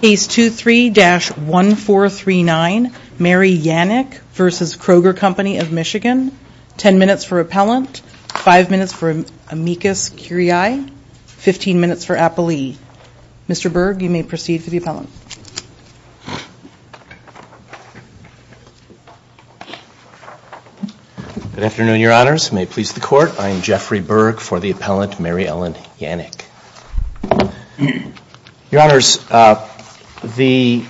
Case 23-1439 Mary Yanick v. Kroger Company of Michigan. Ten minutes for appellant, five minutes for amicus curiae, 15 minutes for appellee. Mr. Berg, you may proceed for the appellant. Good afternoon, your honors. May it please the court, I am Jeffrey Berg for the appellant, Mary Ellen Yanick. Your honors, the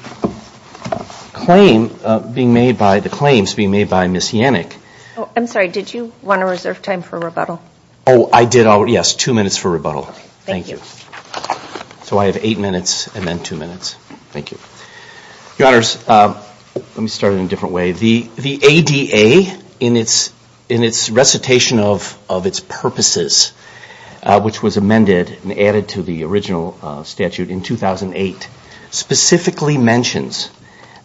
claim being made by, the claims being made by Ms. Yanick. I'm sorry, did you want to reserve time for rebuttal? Oh, I did already. Yes, two minutes for rebuttal. Thank you. So I have eight minutes and then two minutes. Thank you. Your honors, let me start in a different way. The ADA in its recitation of its purposes, which was amended and added to the original statute in 2008, specifically mentions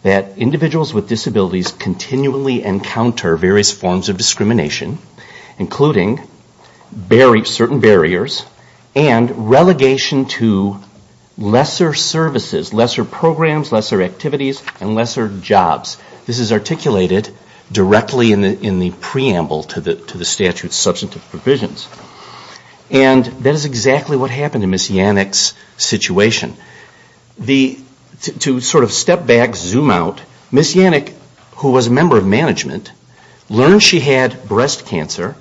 that individuals with disabilities continually encounter various forms of discrimination, including certain barriers and relegation to lesser services, lesser programs, lesser activities, and lesser jobs. This is articulated directly in the preamble to the statute's substantive provisions. And that is exactly what happened in Ms. Yanick's situation. To sort of step back, zoom out, Ms. Yanick, who was a member of management, learned she had breast cancer,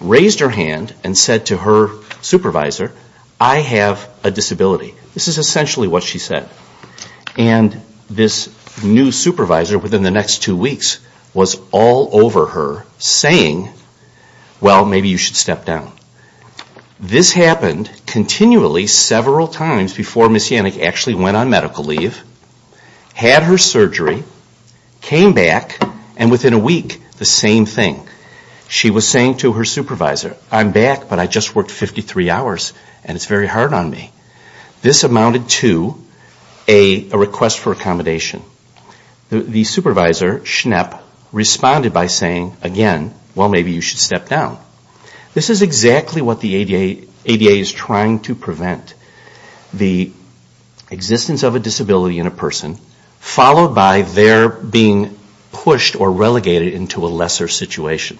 raised her hand and said to her supervisor, I have a disability. This is essentially what she said. And this new supervisor within the next two weeks was all over her saying, well, maybe you should step down. This happened continually several times before Ms. Yanick actually went on medical leave, had her surgery, came back, and within a week, the same thing. She was saying to her supervisor, I'm back, but I just worked 53 hours and it's very hard on me. This amounted to a request for accommodation. The supervisor, Schnepp, responded by saying, again, well, maybe you should step down. This is exactly what the ADA is trying to prevent, the existence of a disability in a person, followed by their being pushed or relegated into a lesser situation.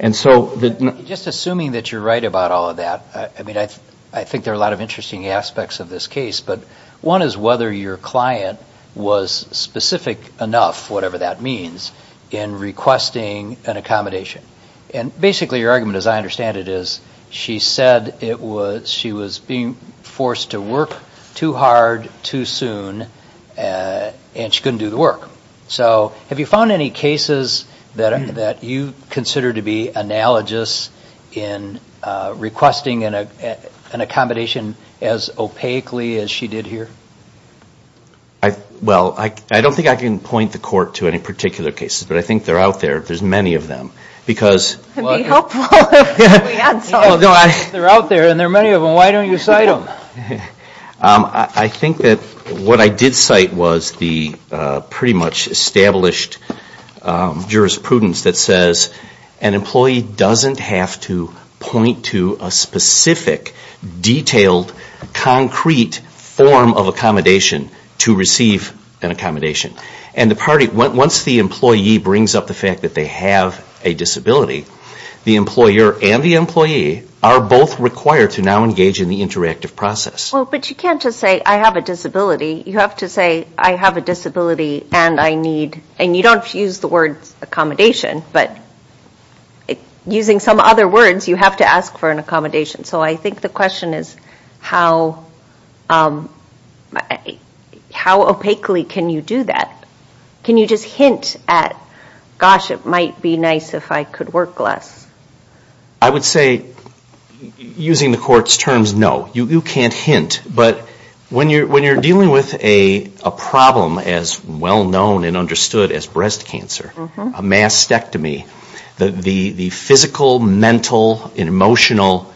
Just assuming that you're right about all of that, I mean, I think there are a lot of interesting aspects of this case, but one is whether your client was specific enough, whatever that means, in requesting an accommodation. And basically, your argument, as I understand it, is she said she was being forced to work too hard too soon, and she couldn't do the work. So have you found any cases that you consider to be analogous in requesting an accommodation as opaquely as she did here? Well, I don't think I can point the court to any particular cases, but I think they're out there. There's many of them. It would be helpful if we had some. They're out there, and there are many of them. Why don't you cite them? I think that what I did cite was the pretty much established jurisprudence that says an employee doesn't have to point to a specific, detailed, concrete form of accommodation to receive an accommodation. And the party, once the employee brings up the fact that they have a disability, the employer and the employee are both required to now engage in the interactive process. Well, but you can't just say, I have a disability. You have to say, I have a disability, and I need, and you don't use the word accommodation, but using some other words, you have to ask for an accommodation. So I think the question is, how opaquely can you do that? Can you just hint at, gosh, it might be nice if I could work less? I would say, using the court's terms, no. You can't hint, but when you're dealing with a problem as well-known and understood as breast cancer, a mastectomy, the physical, mental, and emotional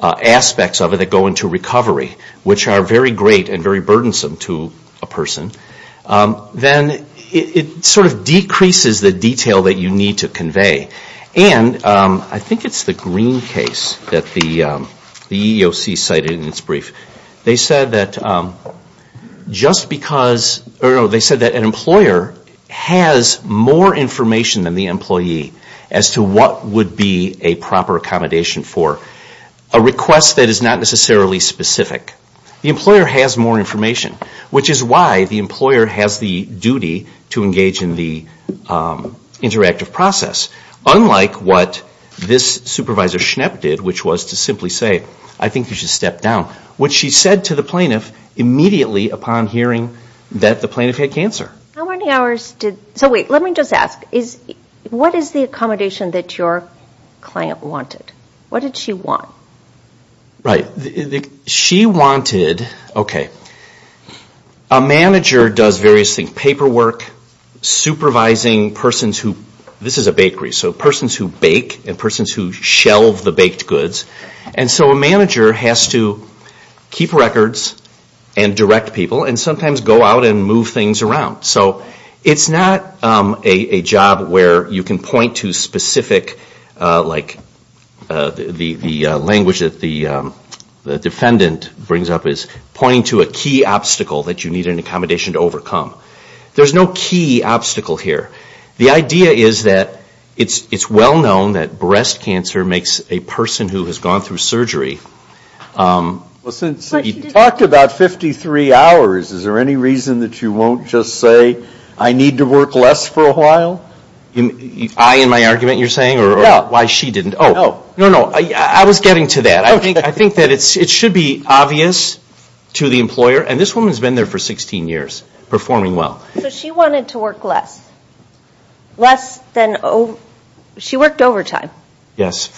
aspects of it that go into recovery, which are very great and very burdensome to a person, then it sort of decreases the detail that you need to convey. And I think it's the Green case that the EEOC cited in its brief. They said that an employer has more information than the employee as to what would be a proper accommodation for a request that is not necessarily specific. The employer has more information, which is why the employer has the duty to engage in the interactive process, unlike what this Supervisor Schnapp did, which was to simply say, I think you should step down, which she said to the plaintiff immediately upon hearing that the plaintiff had cancer. How many hours did, so wait, let me just ask, what is the accommodation that your client wanted? What did she want? She wanted, okay, a manager does various things, paperwork, supervising persons who, this is so a manager has to keep records and direct people and sometimes go out and move things around. So it's not a job where you can point to specific, like the language that the defendant brings up is pointing to a key obstacle that you need an accommodation to overcome. There's no key obstacle here. The idea is that it's well known that breast cancer makes a person who has gone through surgery. Well, since you talked about 53 hours, is there any reason that you won't just say, I need to work less for a while? I and my argument, you're saying, or why she didn't? No, no, no, I was getting to that. I think that it should be obvious to the employer, and this woman has been there for 16 years performing well. So she wanted to work less, less than, she worked overtime. Yes,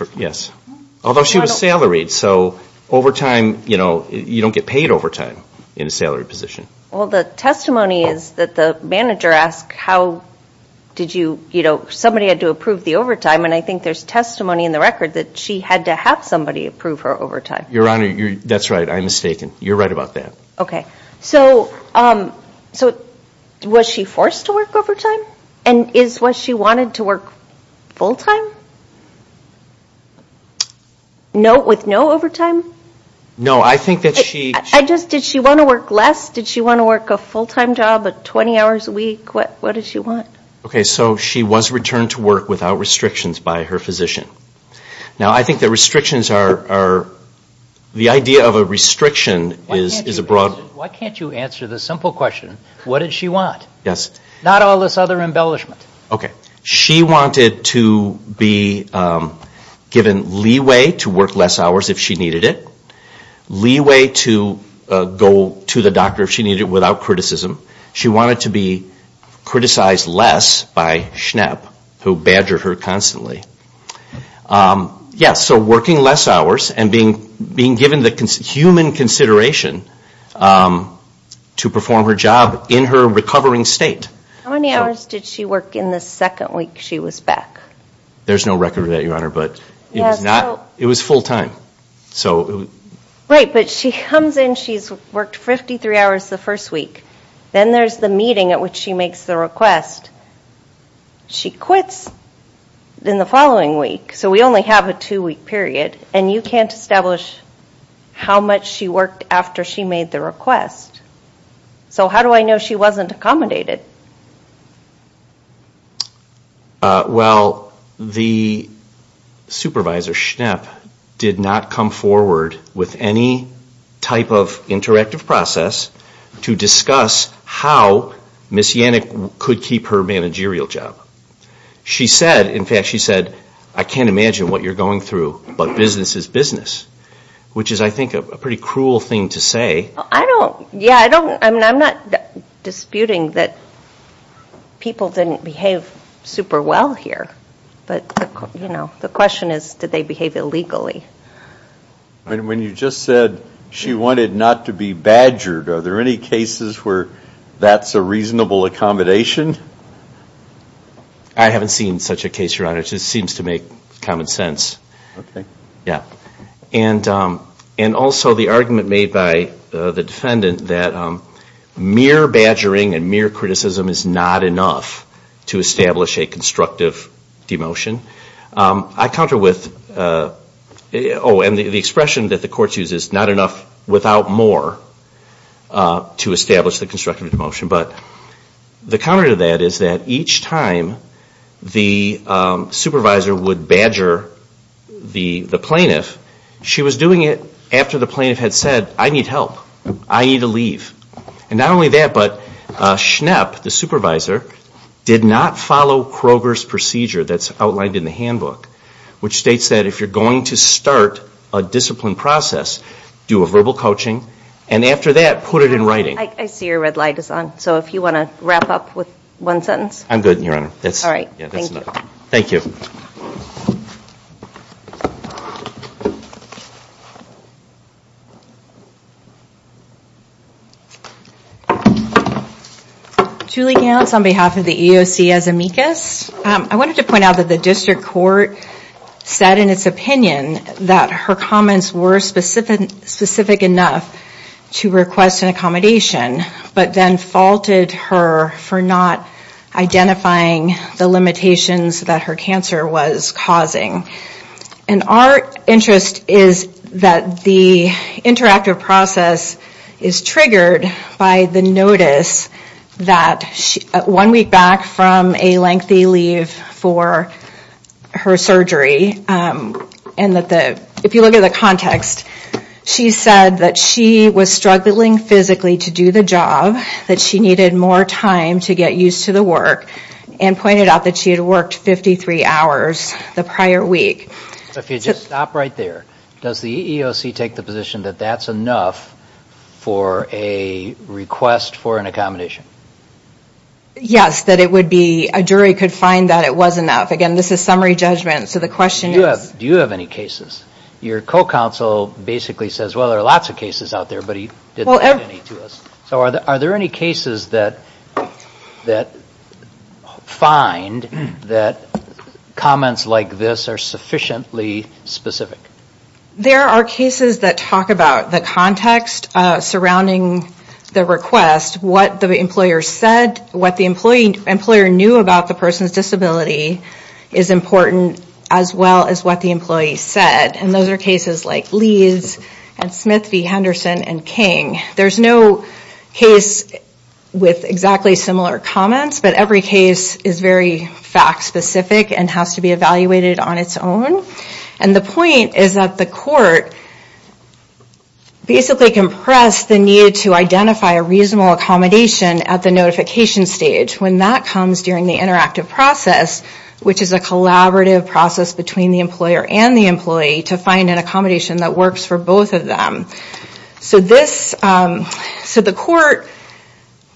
although she was salaried. So overtime, you don't get paid overtime in a salaried position. Well, the testimony is that the manager asked how did you, somebody had to approve the overtime and I think there's testimony in the record that she had to have somebody approve her Your Honor, that's right, I'm mistaken. You're right about that. Okay, so was she forced to work overtime? And is what she wanted to work full-time, with no overtime? No, I think that she I just, did she want to work less? Did she want to work a full-time job, 20 hours a week? What did she want? Okay, so she was returned to work without restrictions by her physician. Now I think the restrictions are, the idea of a restriction is a broad Why can't you answer the simple question, what did she want? Yes. Not all this other embellishment. Okay, she wanted to be given leeway to work less hours if she needed it. Leeway to go to the doctor if she needed it without criticism. She wanted to be criticized less by SHNEP, who badgered her constantly. Yes, so working less hours and being given the human consideration to perform her job in her recovering state. How many hours did she work in the second week she was back? There's no record of that, Your Honor, but it was full-time. Right, but she comes in, she's worked 53 hours the first week. Then there's the meeting at which she makes the request. She quits in the following week, so we only have a two-week period. And you can't establish how much she worked after she made the request. So how do I know she wasn't accommodated? Well, the supervisor, SHNEP, did not come forward with any type of interactive process to discuss how Ms. Yannick could keep her managerial job. She said, in fact, she said, I can't imagine what you're going through, but business is business, which is, I think, a pretty cruel thing to say. I don't, yeah, I don't, I mean, I'm not disputing that people didn't behave super well here. But, you know, the question is, did they behave illegally? When you just said she wanted not to be badgered, are there any cases where that's a reasonable accommodation? I haven't seen such a case, Your Honor. It just seems to make common sense. Yeah. And also the argument made by the defendant that mere badgering and mere criticism is not enough to establish a constructive demotion. I counter with, oh, and the expression that the courts use is not enough without more to establish the constructive demotion. But the counter to that is that each time the supervisor would badger the plaintiff, she was doing it after the plaintiff had said, I need help, I need to leave. And not only that, but Schnepp, the supervisor, did not follow Kroger's procedure that's outlined in the handbook, which states that if you're going to start a discipline process, do a verbal coaching, and after that, put it in writing. I see your red light is on. So if you want to wrap up with one sentence. I'm good, Your Honor. That's all right. Thank you. Thank you. Julie Gants on behalf of the EOC as amicus. I wanted to point out that the district court said in its opinion that her comments were specific enough to request an accommodation, but then faulted her for not identifying the limitations that her cancer was causing. And our interest is that the interactive process is triggered by the notice that one week back from a lengthy leave for her surgery, and that if you look at the context, she said that she was struggling physically to do the job, that she needed more time to get used to the work, and pointed out that she had worked 53 hours the prior week. If you just stop right there, does the EOC take the position that that's enough for a request for an accommodation? Yes, that it would be, a jury could find that it was enough. Again, this is summary judgment. So the question is... Do you have any cases? Your co-counsel basically says, well, there are lots of cases out there, but he didn't mention any to us. So are there any cases that find that comments like this are sufficiently specific? There are cases that talk about the context surrounding the request, what the employer said, what the employer knew about the person's disability is important, as well as what the employee said. And those are cases like Lee's and Smith v. Henderson and King. There's no case with exactly similar comments, but every case is very fact-specific and has to be evaluated on its own. And the point is that the court basically compressed the need to identify a reasonable accommodation at the notification stage. When that comes during the interactive process, which is a collaborative process between the employer and the employee, to find an accommodation that works for both of them. So the court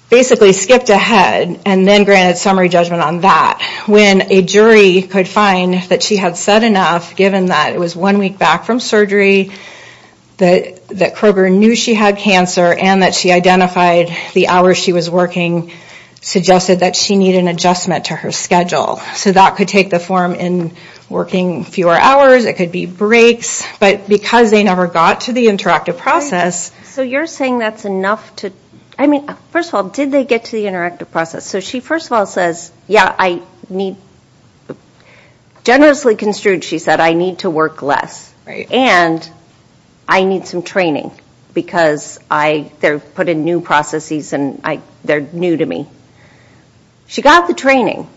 basically skipped ahead and then granted summary judgment on that. When a jury could find that she had said enough, given that it was one week back from surgery, that Kroger knew she had cancer, and that she identified the hour she was working, suggested that she needed an adjustment to her schedule. So that could take the form in working fewer hours, it could be breaks, but because they never got to the interactive process... So you're saying that's enough to... I mean, first of all, did they get to the interactive process? So she first of all says, yeah, I need... Generously construed, she said, I need to work less. And I need some training because they're put in new processes and they're new to me. She got the training.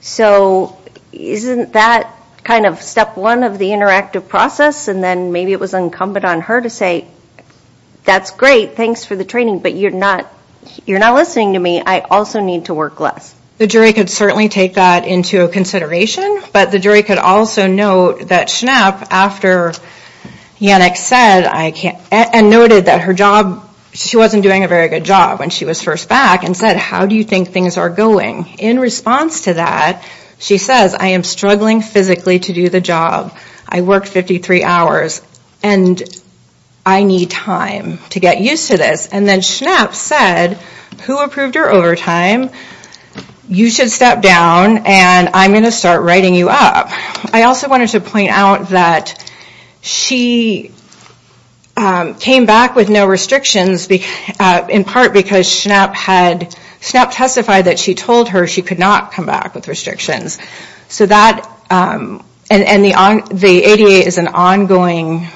So isn't that kind of step one of the interactive process? And then maybe it was incumbent on her to say, that's great, thanks for the training, but you're not listening to me, I also need to work less. The jury could certainly take that into consideration, but the jury could also note that Schnapp, after Yannick said, and noted that her job, she wasn't doing a very good job when she was first back, and said, how do you think things are going? In response to that, she says, I am struggling physically to do the job. I worked 53 hours and I need time to get used to this. And then Schnapp said, who approved her overtime? You should step down and I'm going to start writing you up. I also wanted to point out that she came back with no restrictions, in part because Schnapp testified that she told her she could not come back with restrictions. So that... And the ADA is an ongoing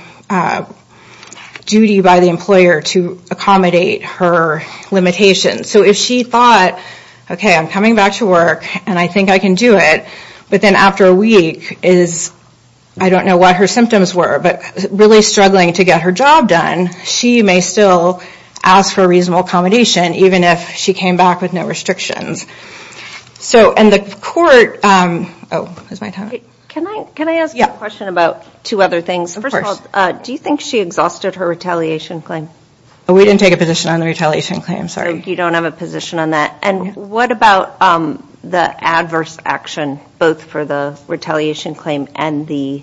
duty by the employer to accommodate her limitations. So if she thought, okay, I'm coming back to work and I think I can do it, but then after a week is, I don't know what her symptoms were, but really struggling to get her job done, she may still ask for reasonable accommodation, even if she came back with no restrictions. So, and the court... Oh, is my time up? Can I ask a question about two other things? First of all, do you think she exhausted her retaliation claim? We didn't take a position on the retaliation claim, sorry. You don't have a position on that. And what about the adverse action, both for the retaliation claim and the...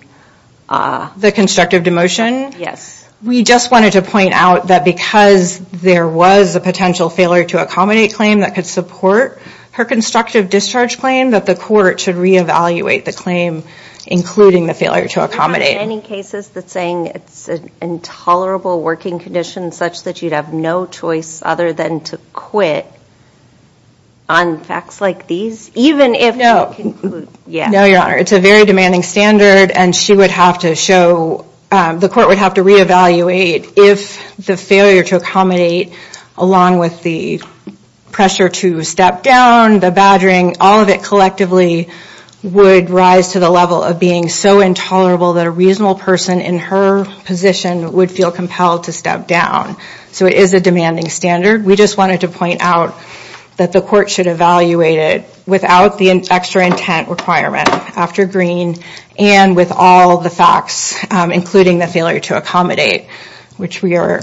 The constructive demotion? Yes. We just wanted to point out that because there was a potential failure to accommodate claim that could support her constructive discharge claim, that the court should re-evaluate the claim, including the failure to accommodate. Have you heard of any cases that saying it's an intolerable working condition, such that you'd have no choice other than to quit on facts like these? Even if... Yeah. No, Your Honor. It's a very demanding standard, and she would have to show... The court would have to re-evaluate if the failure to accommodate, along with the pressure to step down, the badgering, all of it collectively would rise to the level of being so intolerable that a reasonable person in her position would feel compelled to step down. So it is a demanding standard. We just wanted to point out that the court should evaluate it without the extra intent requirement after Green, and with all the facts, including the failure to accommodate, which we are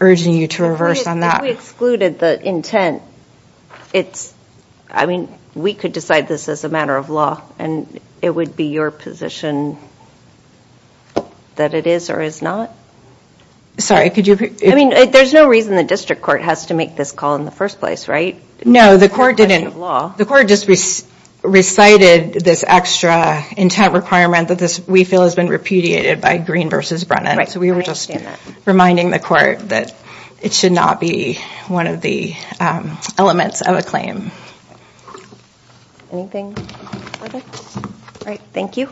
urging you to reverse on that. If we excluded the intent, it's... I mean, we could decide this as a matter of law, and it would be your position that it is or is not. Sorry, could you... I mean, there's no reason the district court has to make this call in the first place, right? No, the court didn't. It's a matter of law. The court just recited this extra intent requirement that we feel has been repudiated by Green versus Brennan. So we were just reminding the court that it should not be one of the elements of a claim. Anything further? All right, thank you.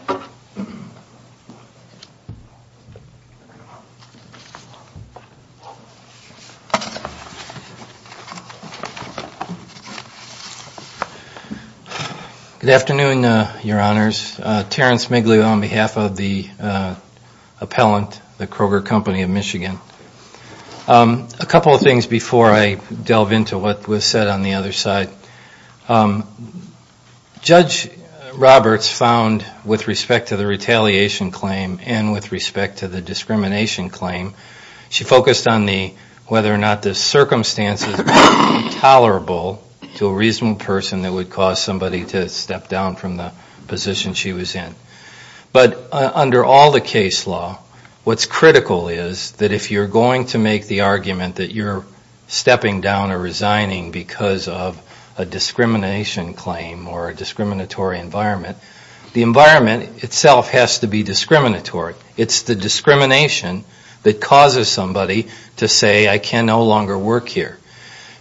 Good afternoon, Your Honors. Terrence Migliu on behalf of the appellant, the Kroger Company of Michigan. A couple of things before I delve into what was said on the other side. Judge Roberts found, with respect to the retaliation claim and with respect to the discrimination claim, she focused on whether or not the circumstances were tolerable to a reasonable person that would cause somebody to step down from the position she was in. But under all the case law, what's critical is that if you're going to make the argument that you're stepping down or resigning because of a discrimination claim or a discriminatory environment, the environment itself has to be discriminatory. It's the discrimination that causes somebody to say, I can no longer work here.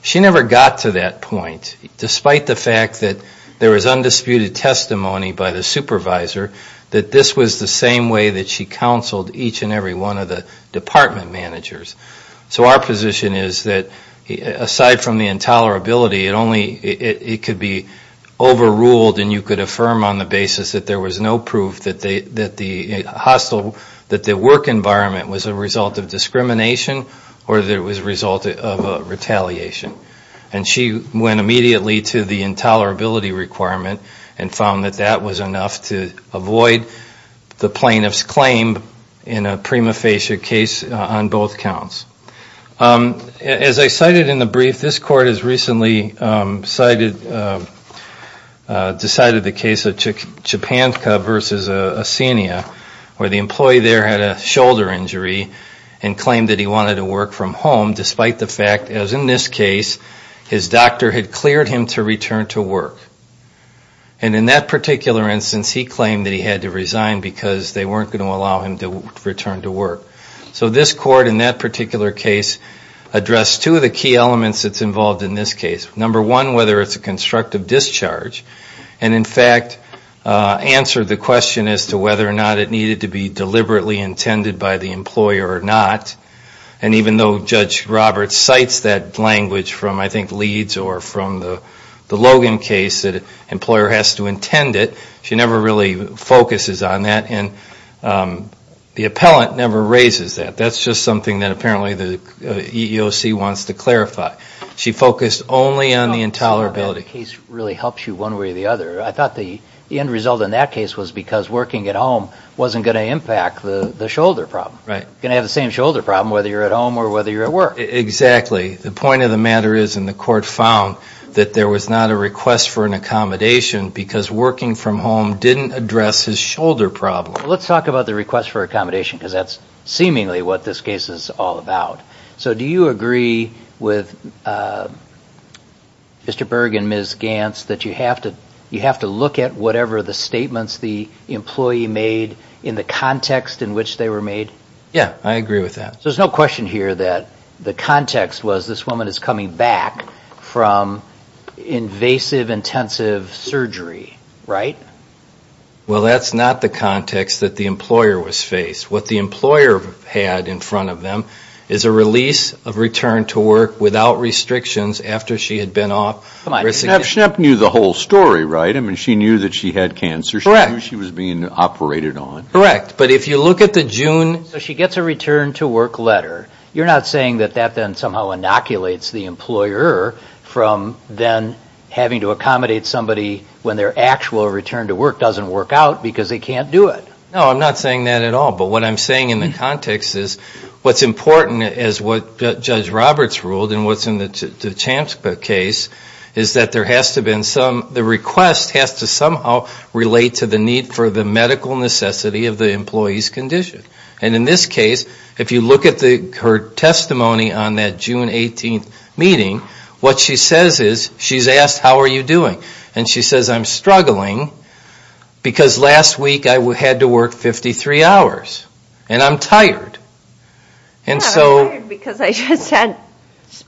She never got to that point, despite the fact that there was undisputed testimony by the supervisor, that this was the same way that she counseled each and every one of the department managers. So our position is that, aside from the intolerability, it could be overruled and you could affirm on the basis that there was no proof that the work environment was a result of discrimination or that it was a result of retaliation. And she went immediately to the intolerability requirement and found that that was enough to avoid the plaintiff's claim in a prima facie case on both counts. As I cited in the brief, this court has recently decided the case of Chepanka versus Asenia, where the employee there had a shoulder injury and claimed that he wanted to work from home, despite the fact, as in this case, his doctor had cleared him to return to work. And in that particular instance, he claimed that he had to resign because they weren't going to allow him to return to work. So this court, in that particular case, addressed two of the key elements that's involved in this case. Number one, whether it's a constructive discharge, and in fact, answered the question as to whether or not it needed to be deliberately intended by the employer or not. And even though Judge Roberts cites that language from, I think, Leeds or from the Logan case, that an employer has to intend it, she never really focuses on that. And the appellant never raises that. That's just something that apparently the EEOC wants to clarify. She focused only on the intolerability. The case really helps you one way or the other. I thought the end result in that case was because working at home wasn't going to impact the shoulder problem. Right. You're going to have the same shoulder problem whether you're at home or whether you're at work. Exactly. The point of the matter is, and the court found, that there was not a request for an accommodation because working from home didn't address his shoulder problem. Let's talk about the request for accommodation because that's seemingly what this case is all about. So do you agree with Mr. Berg and Ms. Gantz that you have to look at whatever the statements the employee made in the context in which they were made? Yeah, I agree with that. So there's no question here that the context was this woman is coming back from invasive intensive surgery, right? Well, that's not the context that the employer was faced. What the employer had in front of them is a release of return to work without restrictions after she had been off. Come on, Schnapp knew the whole story, right? I mean, she knew that she had cancer. Correct. She knew she was being operated on. Correct. But if you look at the June... So she gets a return to work letter. You're not saying that that then somehow inoculates the employer from then having to accommodate somebody when their actual return to work doesn't work out because they can't do it? No, I'm not saying that at all. But what I'm saying in the context is what's important as what Judge Roberts ruled and what's in the Chams case is that there has to have been some... The request has to somehow relate to the need for the medical necessity of the employee's condition. And in this case, if you look at her testimony on that June 18th meeting, what she says is, she's asked, how are you doing? And she says, I'm struggling because last week I had to work 53 hours. And I'm tired. And so... Yeah, I'm tired because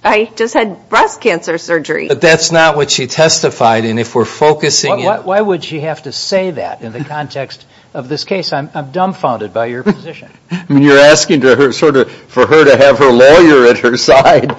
I just had breast cancer surgery. But that's not what she testified. And if we're focusing... Why would she have to say that in the context of this case? I'm dumbfounded by your position. You're asking for her to have her lawyer at her side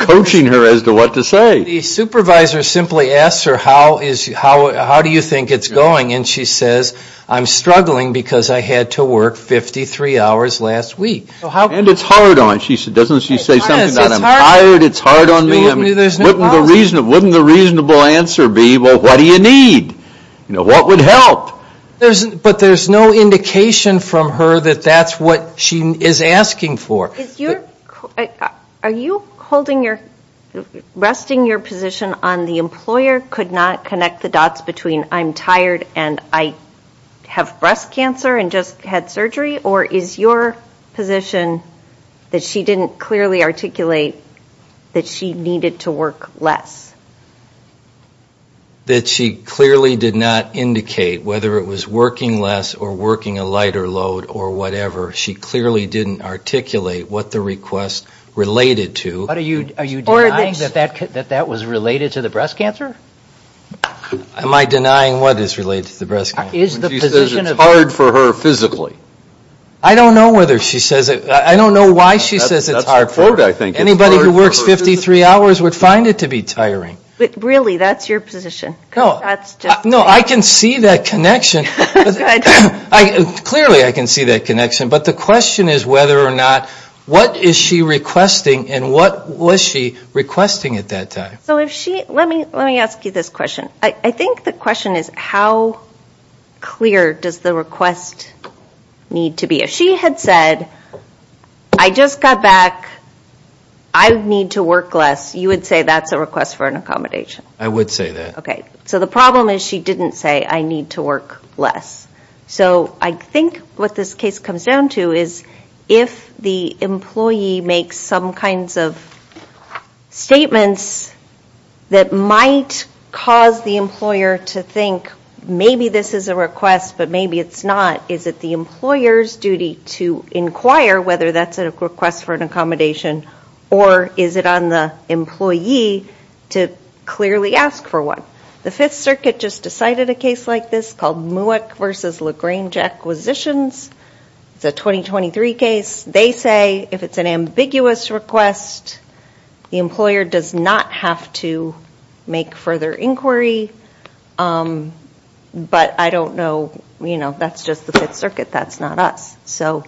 coaching her as to what to say. The supervisor simply asks her, how do you think it's going? And she says, I'm struggling because I had to work 53 hours last week. And it's hard on... Doesn't she say something about, I'm tired, it's hard on me? Wouldn't the reasonable answer be, well, what do you need? What would help? But there's no indication from her that that's what she is asking for. Are you holding your... Resting your position on the employer could not connect the dots between, I'm tired and I have breast cancer and just had surgery? Or is your position that she didn't clearly articulate that she needed to work less? That she clearly did not indicate whether it was working less or working a lighter load or whatever. She clearly didn't articulate what the request related to. Are you denying that that was related to the breast cancer? Am I denying what is related to the breast cancer? Is the position of... She says it's hard for her physically. I don't know whether she says it. I don't know why she says it's hard for her. Anybody who works 53 hours would find it to be tiring. Really, that's your position. No, I can see that connection. Clearly, I can see that connection. But the question is whether or not, what is she requesting and what was she requesting at that time? So if she, let me ask you this question. I think the question is how clear does the request need to be? If she had said, I just got back, I need to work less. You would say that's a request for an accommodation? I would say that. So the problem is she didn't say I need to work less. So I think what this case comes down to is if the employee makes some kinds of statements that might cause the employer to think maybe this is a request, but maybe it's not, is it the employer's duty to inquire whether that's a request for an accommodation or is it on the employee to clearly ask for one? The Fifth Circuit just decided a case like this called Mueck versus Lagrange Acquisitions. It's a 2023 case. They say if it's an ambiguous request, the employer does not have to make further inquiry. But I don't know, that's just the Fifth Circuit. That's not us. So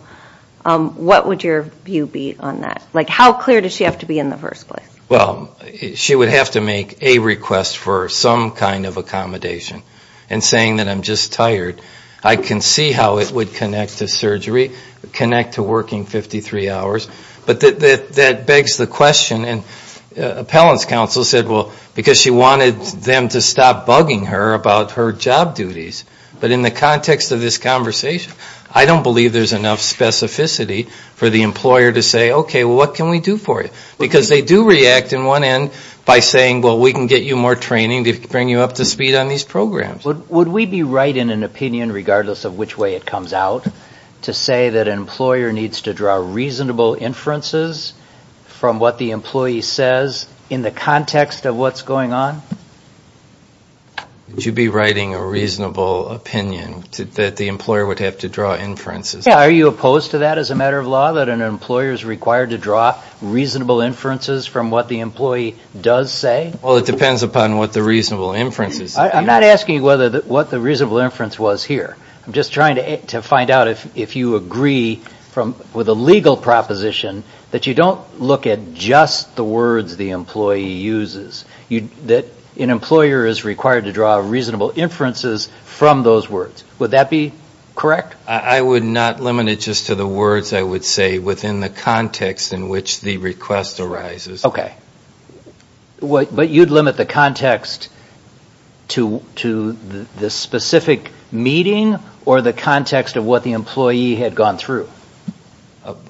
what would your view be on that? How clear does she have to be in the first place? Well, she would have to make a request for some kind of accommodation. And saying that I'm just tired, I can see how it would connect to surgery, connect to working 53 hours. But that begs the question, and appellants counsel said, well, because she wanted them to stop bugging her about her job duties. But in the context of this conversation, I don't believe there's enough specificity for the employer to say, okay, what can we do for you? Because they do react in one end by saying, well, we can get you more training to bring you up to speed on these programs. Would we be right in an opinion, regardless of which way it comes out, to say that an employer needs to draw reasonable inferences from what the employee says in the context of what's going on? Would you be writing a reasonable opinion that the employer would have to draw inferences? Are you opposed to that as a matter of law, that an employer is required to draw reasonable inferences from what the employee does say? Well, it depends upon what the reasonable inference is. I'm not asking what the reasonable inference was here. I'm just trying to find out if you agree with a legal proposition that you don't look at just the words the employee uses, that an employer is required to draw reasonable inferences from those words. Would that be correct? I would not limit it just to the words I would say within the context in which the request arises. But you'd limit the context to the specific meeting or the context of what the employee had gone through?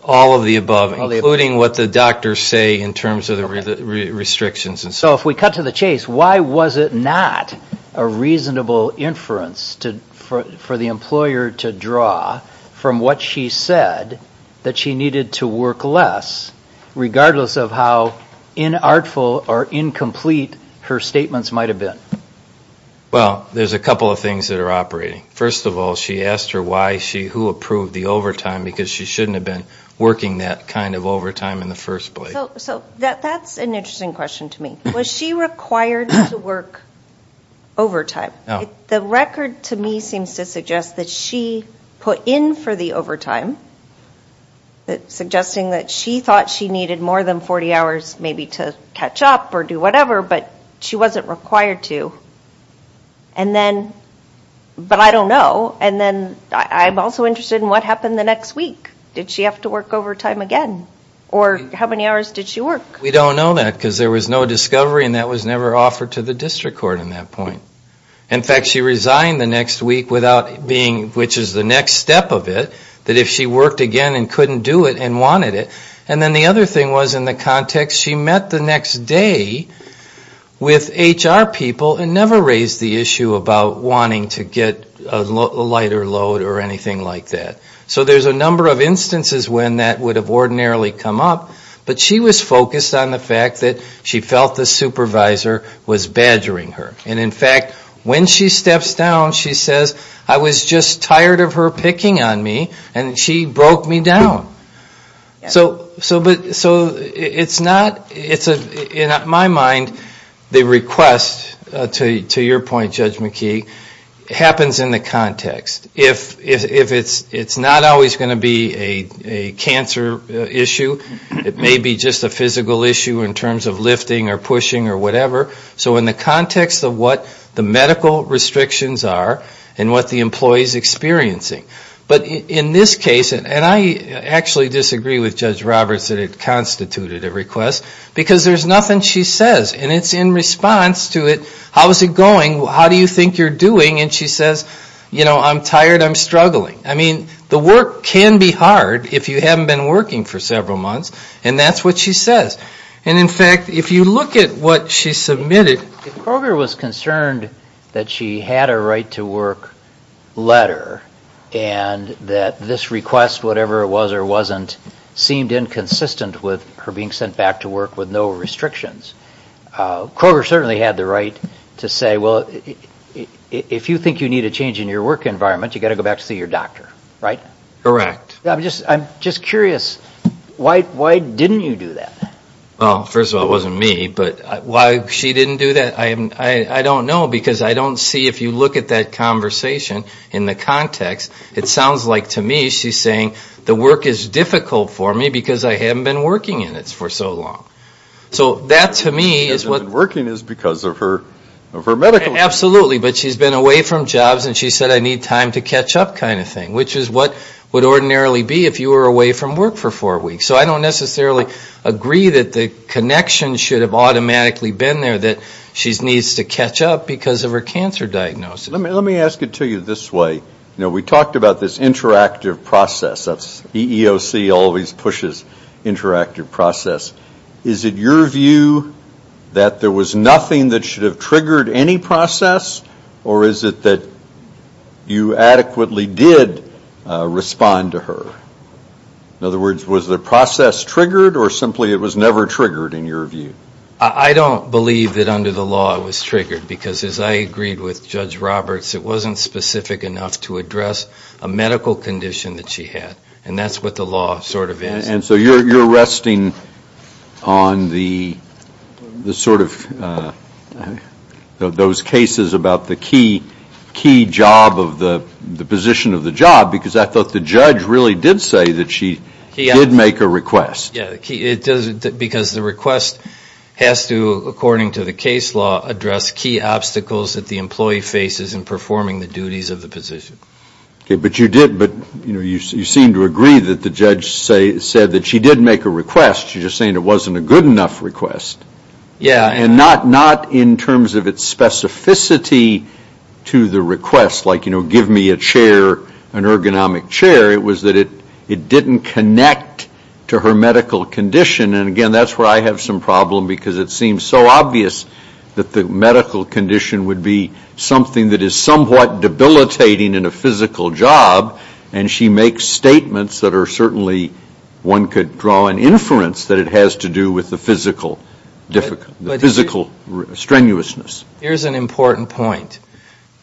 All of the above, including what the doctors say in terms of the restrictions. So if we cut to the chase, why was it not a reasonable inference for the employer to draw from what she said that she needed to work less, regardless of how inartful or incomplete her statements might have been? Well, there's a couple of things that are operating. First of all, she asked her who approved the overtime because she shouldn't have been working that kind of overtime in the first place. So that's an interesting question to me. Was she required to work overtime? The record to me seems to suggest that she put in for the overtime, suggesting that she thought she needed more than 40 hours maybe to catch up or do whatever, but she wasn't required to. And then, but I don't know. And then I'm also interested in what happened the next week. Did she have to work overtime again? Or how many hours did she work? We don't know that because there was no discovery and that was never offered to the district court in that point. In fact, she resigned the next week without being, which is the next step of it, that if she worked again and couldn't do it and wanted it. And then the other thing was in the context, she met the next day with HR people and never raised the issue about wanting to get a lighter load or anything like that. So there's a number of instances when that would have ordinarily come up, but she was focused on the fact that she felt the supervisor was badgering her. And in fact, when she steps down, she says, I was just tired of her picking on me and she broke me down. So it's not, in my mind, the request to your point, Judge McKee, happens in the context. If it's not always gonna be a cancer issue, it may be just a physical issue in terms of lifting or pushing or whatever. So in the context of what the medical restrictions are and what the employee's experiencing. But in this case, and I actually disagree with Judge Roberts that it constituted a request because there's nothing she says. And it's in response to it, how's it going? How do you think you're doing? And she says, I'm tired, I'm struggling. I mean, the work can be hard if you haven't been working for several months. And that's what she says. And in fact, if you look at what she submitted. Kroger was concerned that she had a right to work letter and that this request, whatever it was or wasn't, seemed inconsistent with her being sent back to work with no restrictions. Kroger certainly had the right to say, well, if you think you need a change in your work environment, you gotta go back to see your doctor, right? Correct. I'm just curious, why didn't you do that? Well, first of all, it wasn't me, but why she didn't do that, I don't know because I don't see, if you look at that conversation in the context, it sounds like to me, she's saying the work is difficult for me because I haven't been working in it for so long. So that to me is what- Working is because of her medical- Absolutely, but she's been away from jobs and she said, I need time to catch up kind of thing, which is what would ordinarily be if you were away from work for four weeks. So I don't necessarily agree that the connection should have automatically been there, that she needs to catch up because of her cancer diagnosis. Let me ask it to you this way. We talked about this interactive process, that's EEOC always pushes interactive process. Is it your view that there was nothing that should have triggered any process or is it that you adequately did respond to her? In other words, was the process triggered or simply it was never triggered in your view? I don't believe that under the law it was triggered because as I agreed with Judge Roberts, it wasn't specific enough to address a medical condition that she had and that's what the law sort of is. And so you're resting on the sort of those cases about the key job of the position of the job because I thought the judge really did say that she did make a request. Yeah, because the request has to, according to the case law, address key obstacles that the employee faces in performing the duties of the position. Okay, but you did, but you seem to agree that the judge said that she did make a request, you're just saying it wasn't a good enough request. Yeah, and not in terms of its specificity to the request, like give me a chair, an ergonomic chair, it was that it didn't connect to her medical condition. And again, that's where I have some problem because it seems so obvious that the medical condition would be something that is somewhat debilitating in a physical job and she makes statements that are certainly one could draw an inference that it has to do with the physical strenuousness. Here's an important point,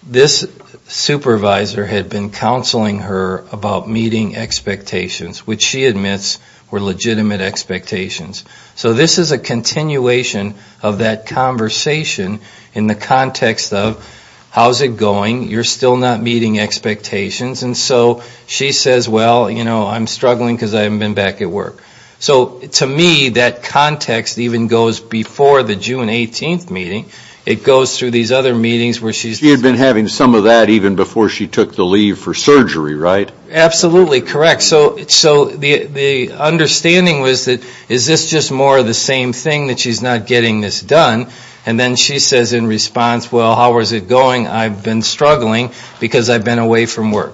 this supervisor had been counseling her about meeting expectations, which she admits were legitimate expectations. So this is a continuation of that conversation in the context of how's it going, you're still not meeting expectations and so she says, well, I'm struggling because I haven't been back at work. So to me, that context even goes before the June 18th meeting, it goes through these other meetings where she's- She had been having some of that even before she took the leave for surgery, right? Absolutely correct. So the understanding was that, is this just more of the same thing that she's not getting this done? And then she says in response, well, how was it going? I've been struggling because I've been away from work.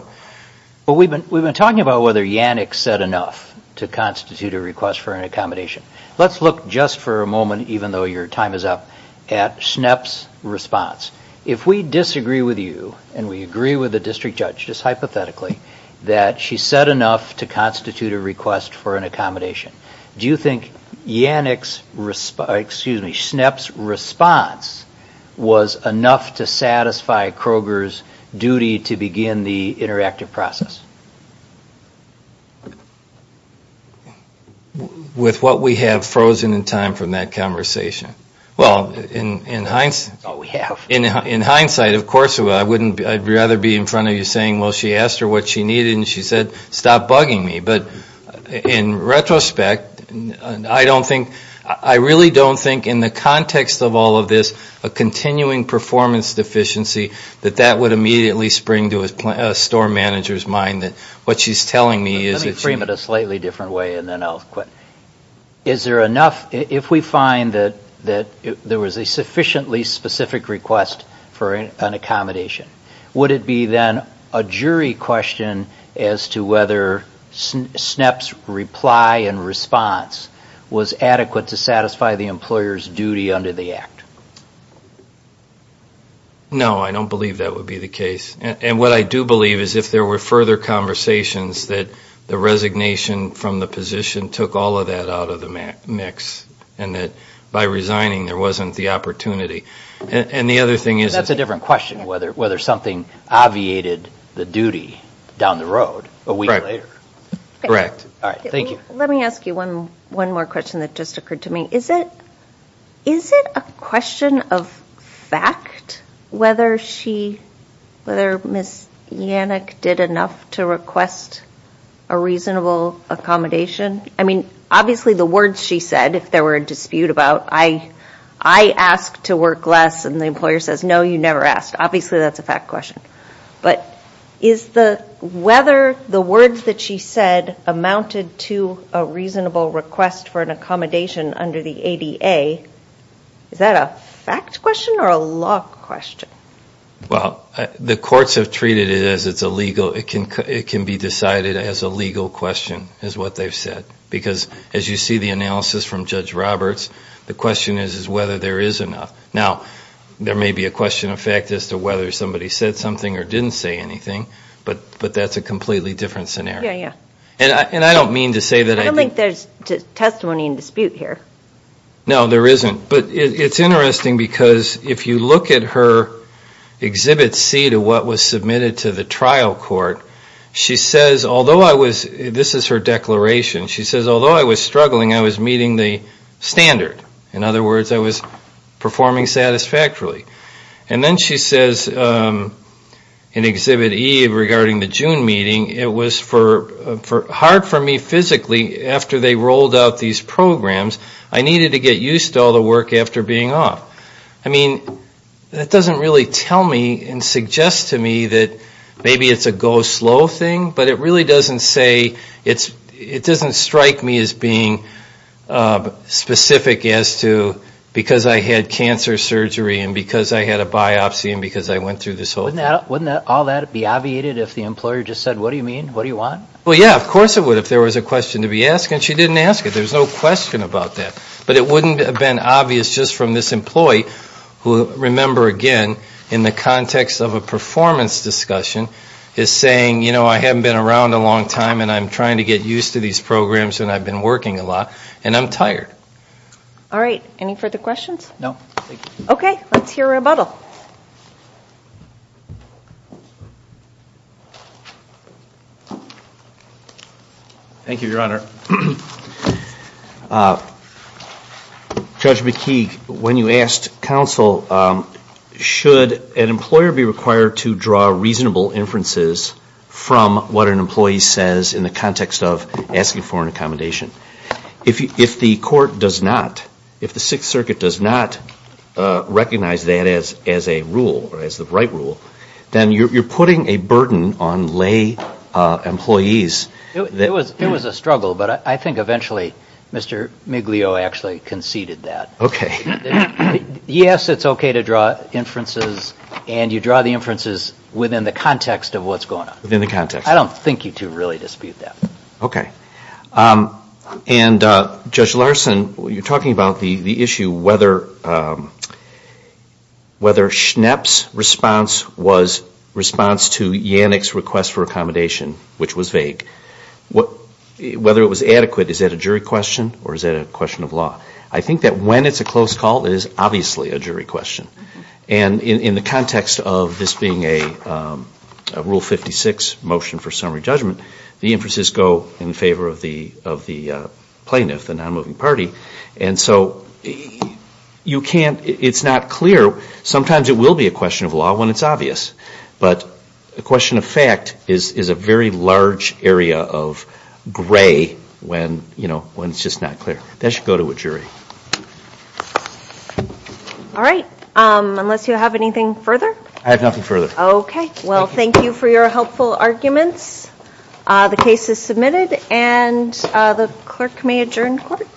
Well, we've been talking about whether Yanick said enough to constitute a request for an accommodation. Let's look just for a moment, even though your time is up at SNEP's response. If we disagree with you and we agree with the district judge just hypothetically, that she said enough to constitute a request for an accommodation, do you think Yanick's response, excuse me, SNEP's response was enough to satisfy Kroger's duty to begin the interactive process? With what we have frozen in time from that conversation? Well, in hindsight- That's all we have. In hindsight, of course, I'd rather be in front of you saying, well, she asked her what she needed and she said, stop bugging me. But in retrospect, I don't think, I really don't think in the context of all of this, a continuing performance deficiency that that would immediately spring to a store manager's mind that what she's telling me is that she- Let me frame it a slightly different way and then I'll quit. Is there enough, if we find that there was a sufficiently specific request for an accommodation, would it be then a jury question as to whether SNEP's reply and response was adequate to satisfy the employer's duty under the act? No, I don't believe that would be the case. And what I do believe is if there were further conversations that the resignation from the position took all of that out of the mix and that by resigning, there wasn't the opportunity. And the other thing is- And that's a different question, whether something obviated the duty down the road a week later. All right, thank you. Let me ask you one more question that just occurred to me. Is it a question of fact whether she, whether Ms. Yannick did enough to request a reasonable accommodation? I mean, obviously the words she said, if there were a dispute about I asked to work less and the employer says, no, you never asked. Obviously that's a fact question. But is the, whether the words that she said amounted to a reasonable request for an accommodation under the ADA, is that a fact question or a law question? Well, the courts have treated it as it's illegal. It can be decided as a legal question is what they've said. Because as you see the analysis from Judge Roberts, the question is, is whether there is enough. Now, there may be a question of fact as to whether somebody said something or didn't say anything but that's a completely different scenario. And I don't mean to say that- I don't think there's testimony in dispute here. No, there isn't. But it's interesting because if you look at her exhibit C to what was submitted to the trial court, she says, although I was, this is her declaration. She says, although I was struggling, I was meeting the standard. In other words, I was performing satisfactorily. And then she says in exhibit E regarding the June meeting, it was hard for me physically after they rolled out these programs, I needed to get used to all the work after being off. I mean, that doesn't really tell me and suggest to me that maybe it's a go slow thing, but it really doesn't say, it doesn't strike me as being specific as to because I had cancer surgery and because I had a biopsy and because I went through this whole thing. Wouldn't all that be obviated if the employer just said, what do you mean? What do you want? Well, yeah, of course it would if there was a question to be asked and she didn't ask it. There's no question about that. But it wouldn't have been obvious just from this employee who remember again in the context of a performance discussion is saying, I haven't been around a long time and I'm trying to get used to these programs and I've been working a lot and I'm tired. All right, any further questions? No, thank you. Okay, let's hear a rebuttal. Thank you, Your Honor. Judge McKee, when you asked counsel, should an employer be required to draw reasonable inferences from what an employee says in the context of asking for an accommodation? If the court does not, if the Sixth Circuit does not recognize that as a rule or as the right rule, then you're putting a burden on lay employees. It was a struggle, but I think eventually, Mr. Miglio actually conceded that. Yes, it's okay to draw inferences and you draw the inferences within the context of what's going on. Within the context. I don't think you two really dispute that. Okay. And Judge Larson, you're talking about the issue whether Schnepp's response was response to Yannick's request for accommodation, which was vague. Whether it was adequate, is that a jury question or is that a question of law? I think that when it's a close call, it is obviously a jury question. And in the context of this being a Rule 56 motion for summary judgment, the inferences go in favor of the plaintiff, the non-moving party. And so you can't, it's not clear. Sometimes it will be a question of law when it's obvious. But the question of fact is a very large area of gray when it's just not clear. That should go to a jury. All right, unless you have anything further? I have nothing further. Okay, well, thank you for your helpful arguments. The case is submitted and the clerk may adjourn court.